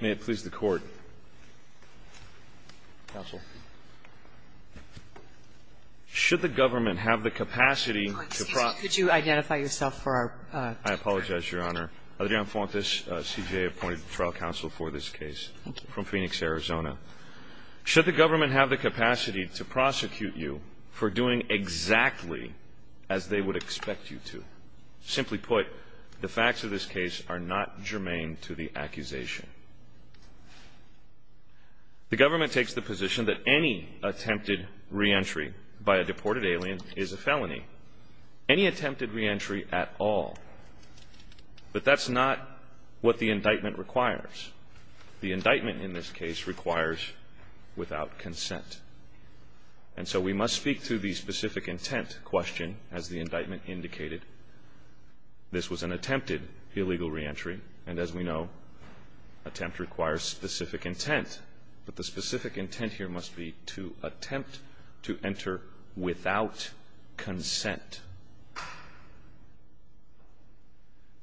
May it please the Court, Counsel. Should the government have the capacity to prosecute you for doing exactly as they would expect you to, simply put, the facts of this case are not germane to the accusation. The government takes the position that any attempted reentry by a deported alien is a felony. Any attempted reentry at all. But that's not what the indictment requires. The indictment in this case requires without consent. And so we must speak to the specific intent question, as the indictment indicated. This was an attempted illegal reentry. And as we know, attempt requires specific intent. But the specific intent here must be to attempt to enter without consent.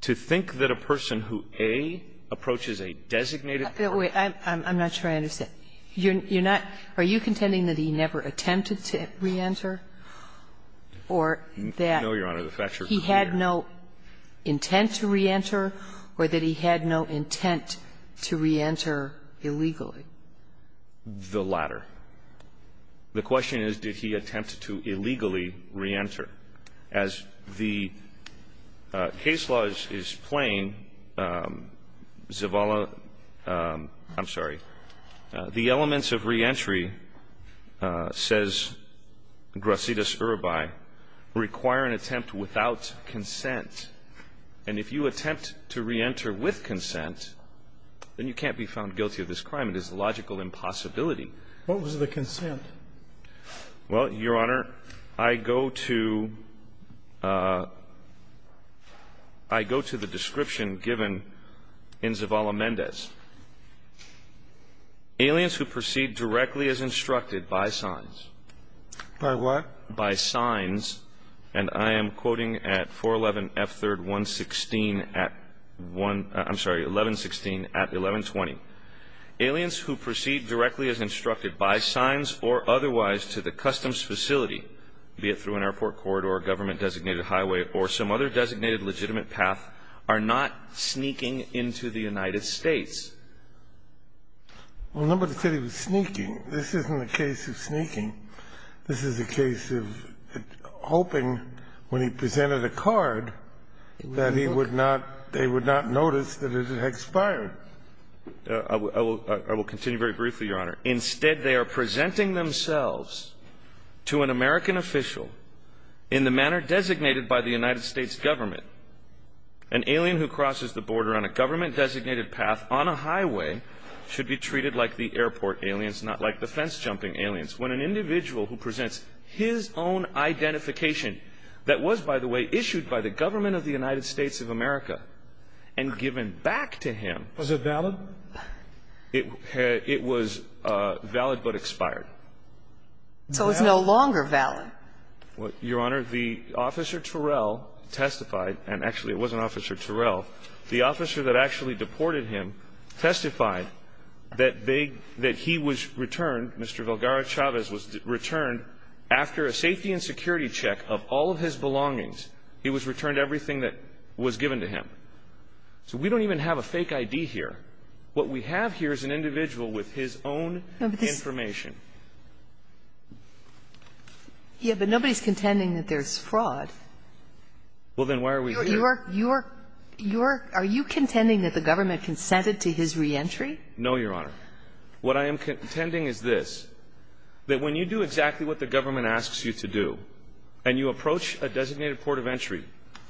To think that a person who A, approaches a designated person. Kagan I'm not sure I understand. You're not are you contending that he never attempted to reenter or that he had no intent to reenter or that he had no intent to reenter illegally? The latter. The question is, did he attempt to illegally reenter? As the case law is plain, Zavala, I'm sorry, the elements of reentry, says Gracidas-Urbai, require an attempt without consent. And if you attempt to reenter with consent, then you can't be found guilty of this crime. It is a logical impossibility. What was the consent? Well, Your Honor, I go to the description given in Zavala-Mendez. Aliens who proceed directly as instructed by signs. By what? By signs. And I am quoting at 411 F3rd 116 at 1, I'm sorry, 1116 at 1120. Aliens who proceed directly as instructed by signs or otherwise to the customs facility, be it through an airport corridor, government designated highway, or some other designated legitimate path, are not sneaking into the United States. Well, remember to say he was sneaking. This isn't a case of sneaking. This is a case of hoping when he presented a card that he would not, they would not notice that it had expired. I will continue very briefly, Your Honor. Instead, they are presenting themselves to an American official in the manner designated by the United States government. An alien who crosses the border on a government designated path on a highway should be treated like the airport aliens, not like the fence-jumping aliens. When an individual who presents his own identification that was, by the way, issued by the government of the United States of America and given back to him. Was it valid? It was valid, but expired. So it's no longer valid. Your Honor, the officer Terrell testified, and actually it wasn't officer Terrell. The officer that actually deported him testified that they, that he was returned, Mr. Valgarra-Chavez was returned after a safety and security check of all of his belongings. He was returned everything that was given to him. So we don't even have a fake ID here. What we have here is an individual with his own information. Yeah, but nobody's contending that there's fraud. Well, then why are we here? You're, you're, you're, are you contending that the government consented to his reentry? No, Your Honor. What I am contending is this, that when you do exactly what the government asks you to do, and you approach a designated port of entry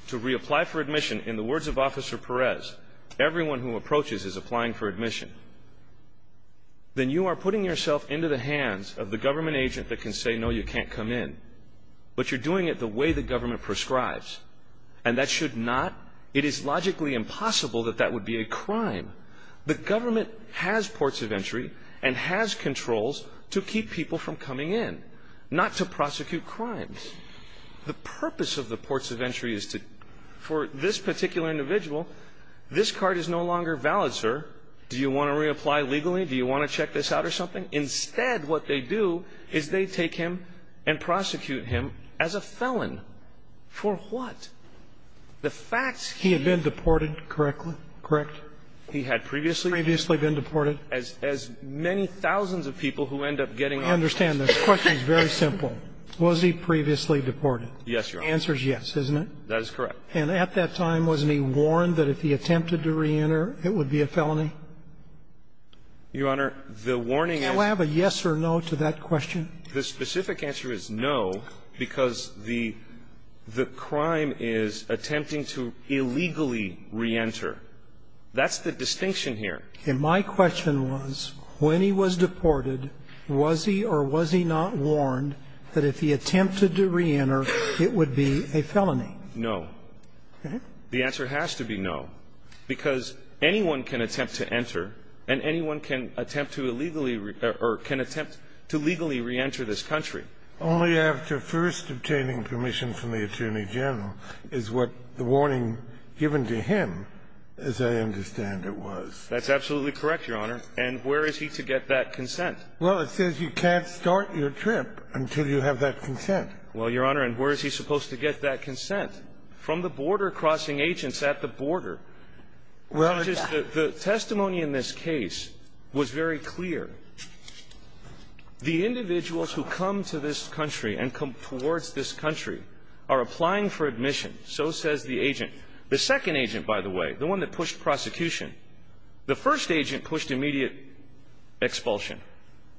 to reapply for admission, in the words of Officer Perez, everyone who approaches is applying for admission, then you are putting yourself into the hands of the government agent that can say, no, you can't come in. But you're doing it the way the government prescribes. And that should not, it is logically impossible that that would be a crime. The government has ports of entry and has controls to keep people from coming in, not to prosecute crimes. The purpose of the ports of entry is to, for this particular individual, this card is no longer valid, sir. Do you want to reapply legally? Do you want to check this out or something? Instead, what they do is they take him and prosecute him as a felon. For what? The facts can't be the same. He had been deported, correct? Correct? He had previously? Previously been deported. As many thousands of people who end up getting out. I understand this. The question is very simple. Was he previously deported? Yes, Your Honor. The answer is yes, isn't it? That is correct. And at that time, wasn't he warned that if he attempted to reenter, it would be a felony? Your Honor, the warning is Can I have a yes or no to that question? The specific answer is no, because the crime is attempting to illegally reenter. That's the distinction here. And my question was, when he was deported, was he or was he not warned that if he attempted to reenter, it would be a felony? No. The answer has to be no, because anyone can attempt to enter, and anyone can attempt to illegally or can attempt to legally reenter this country. Only after first obtaining permission from the Attorney General is what the warning given to him, as I understand it, was. That's absolutely correct, Your Honor. And where is he to get that consent? Well, it says you can't start your trip until you have that consent. Well, Your Honor, and where is he supposed to get that consent? From the border crossing agents at the border. Well, the testimony in this case was very clear. The individuals who come to this country and come towards this country are applying for admission, so says the agent. The second agent, by the way, the one that pushed prosecution, the first agent pushed immediate expulsion.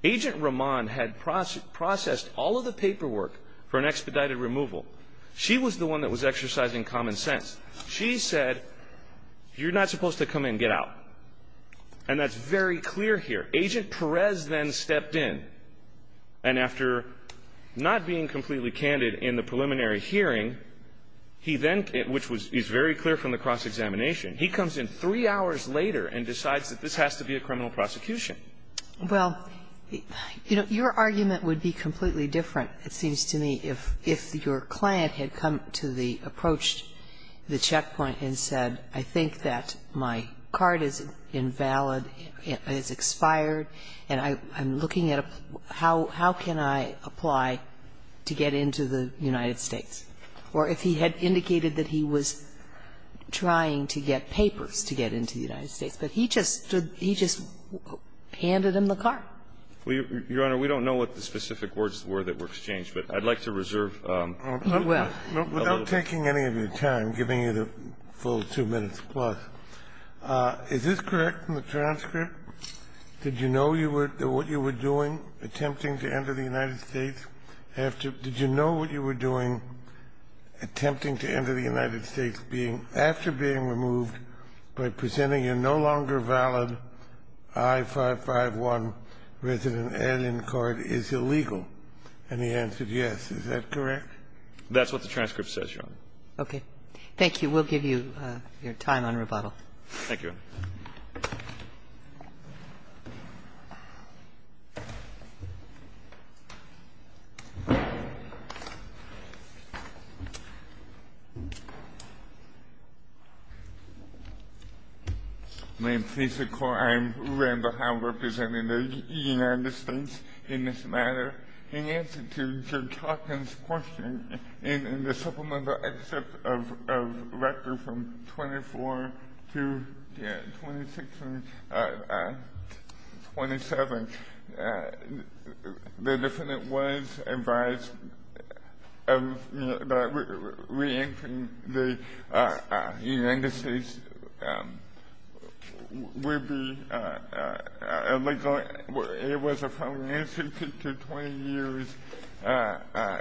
Agent Roman had processed all of the paperwork for an expedited removal. She was the one that was exercising common sense. She said, you're not supposed to come in, get out. And that's very clear here. Agent Perez then stepped in, and after not being completely candid in the preliminary hearing, he then, which is very clear from the cross-examination, he comes in three hours later and decides that this has to be a criminal prosecution. Well, your argument would be completely different, it seems to me, if your client had come to the approach, the checkpoint, and said, I think that my card is invalid, it's expired, and I'm looking at how can I apply to get into the United States, or if he had indicated that he was trying to get papers to get into the United States, but he just handed him the card. Your Honor, we don't know what the specific words were that were exchanged, but I'd like to reserve. Well, without taking any of your time, giving you the full two minutes plus, is this correct in the transcript? Did you know you were what you were doing, attempting to enter the United States after did you know what you were doing, attempting to enter the United States being after being removed by presenting a no longer valid I-551 resident alien card is illegal? And he answered yes. Is that correct? That's what the transcript says, Your Honor. Okay. Thank you. We'll give you your time on rebuttal. Thank you. May it please the Court. I am Randall Howard, representative of the United States in this matter. In answer to Joe Tocan's question, in the supplemental excerpt of Rector from 24 to 26 and 27, the defendant was advised that reentering the United States would be illegal. It was a felony institution to 20 years'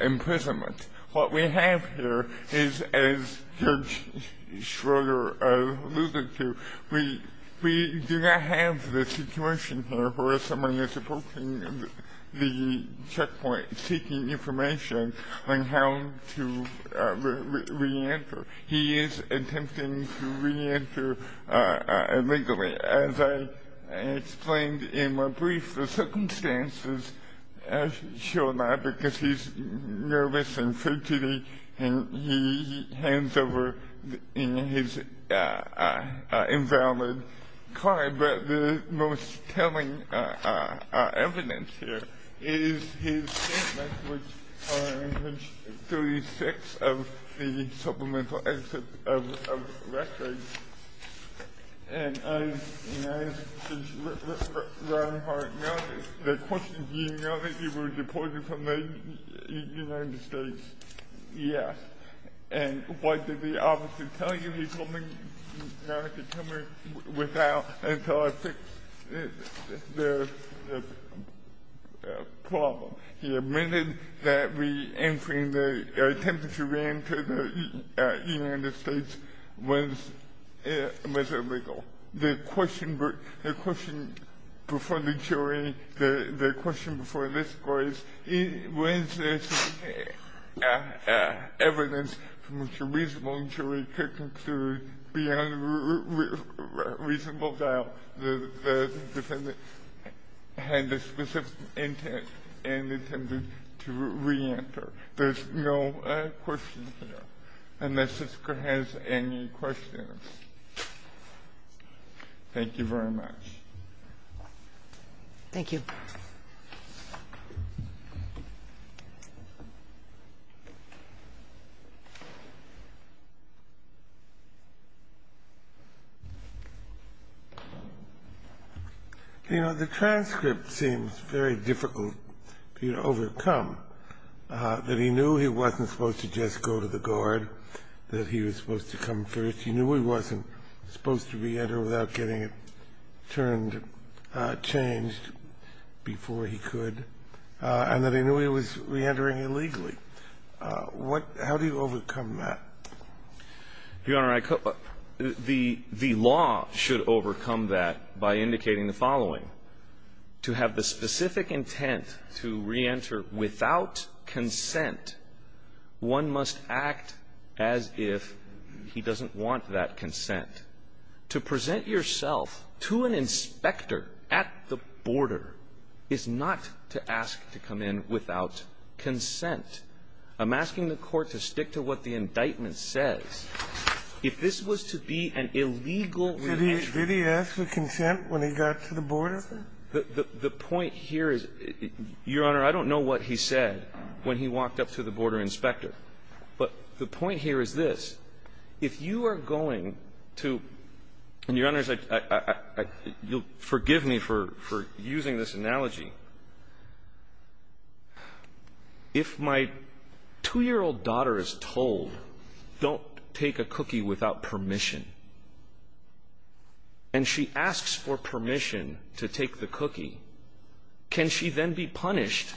imprisonment. What we have here is, as Judge Schroeder alluded to, we do not have the situation here where someone is approaching the checkpoint seeking information on how to reenter. He is attempting to reenter illegally. As I explained in my brief, the circumstances show that because he's nervous and frugally, and he hands over his invalid card. The most telling evidence here is his statements, which are in page 36 of the supplemental excerpt of Rector. And I asked Judge Randall Howard, the question, do you know that you were deported from the United States? Yes. And what did the officer tell you? He told me not to tell me until I fixed the problem. He admitted that reentering, the attempt to reenter the United States was illegal. The question before the jury, the question before this court is, was this evidence from which a reasonable jury could conclude beyond reasonable doubt that the defendant had the specific intent and intended to reenter. There's no question here. Unless this Court has any questions. Thank you very much. Thank you. You know, the transcript seems very difficult to overcome, that he knew he wasn't supposed to just go to the guard, that he was supposed to come first. He knew he wasn't supposed to reenter without getting it turned, changed before he could, and that he knew he was reentering illegally. How do you overcome that? Your Honor, the law should overcome that by indicating the following. To have the specific intent to reenter without consent, one must act as if he doesn't want that consent. To present yourself to an inspector at the border is not to ask to come in without consent. I'm asking the Court to stick to what the indictment says. If this was to be an illegal reentry Did he ask for consent when he got to the border? The point here is, Your Honor, I don't know what he said when he walked up to the border inspector. But the point here is this. If you are going to, and, Your Honor, you'll forgive me for using this analogy. If my 2-year-old daughter is told, don't take a cookie without permission, and she asks for permission to take the cookie, can she then be punished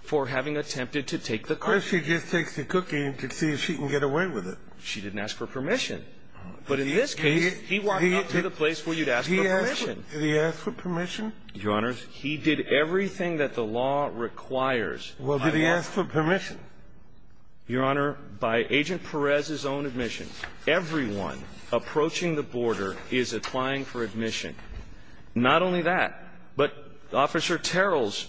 for having attempted to take the cookie? Because she just takes the cookie to see if she can get away with it. She didn't ask for permission. But in this case, he walked up to the place where you'd ask for permission. Did he ask for permission? Your Honor, he did everything that the law requires. Well, did he ask for permission? Your Honor, by Agent Perez's own admission, everyone approaching the border is applying for admission. Not only that, but Officer Terrell's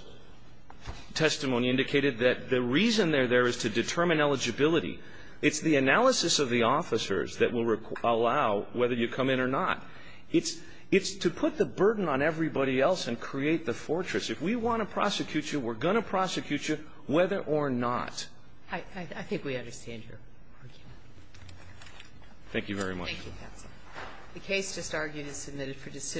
testimony indicated that the reason they're there is to determine eligibility. It's the analysis of the officers that will allow whether you come in or not. It's to put the burden on everybody else and create the fortress. If we want to prosecute you, we're going to prosecute you, whether or not. I think we understand your argument. Thank you very much. Thank you, counsel. The case just argued is submitted for decision.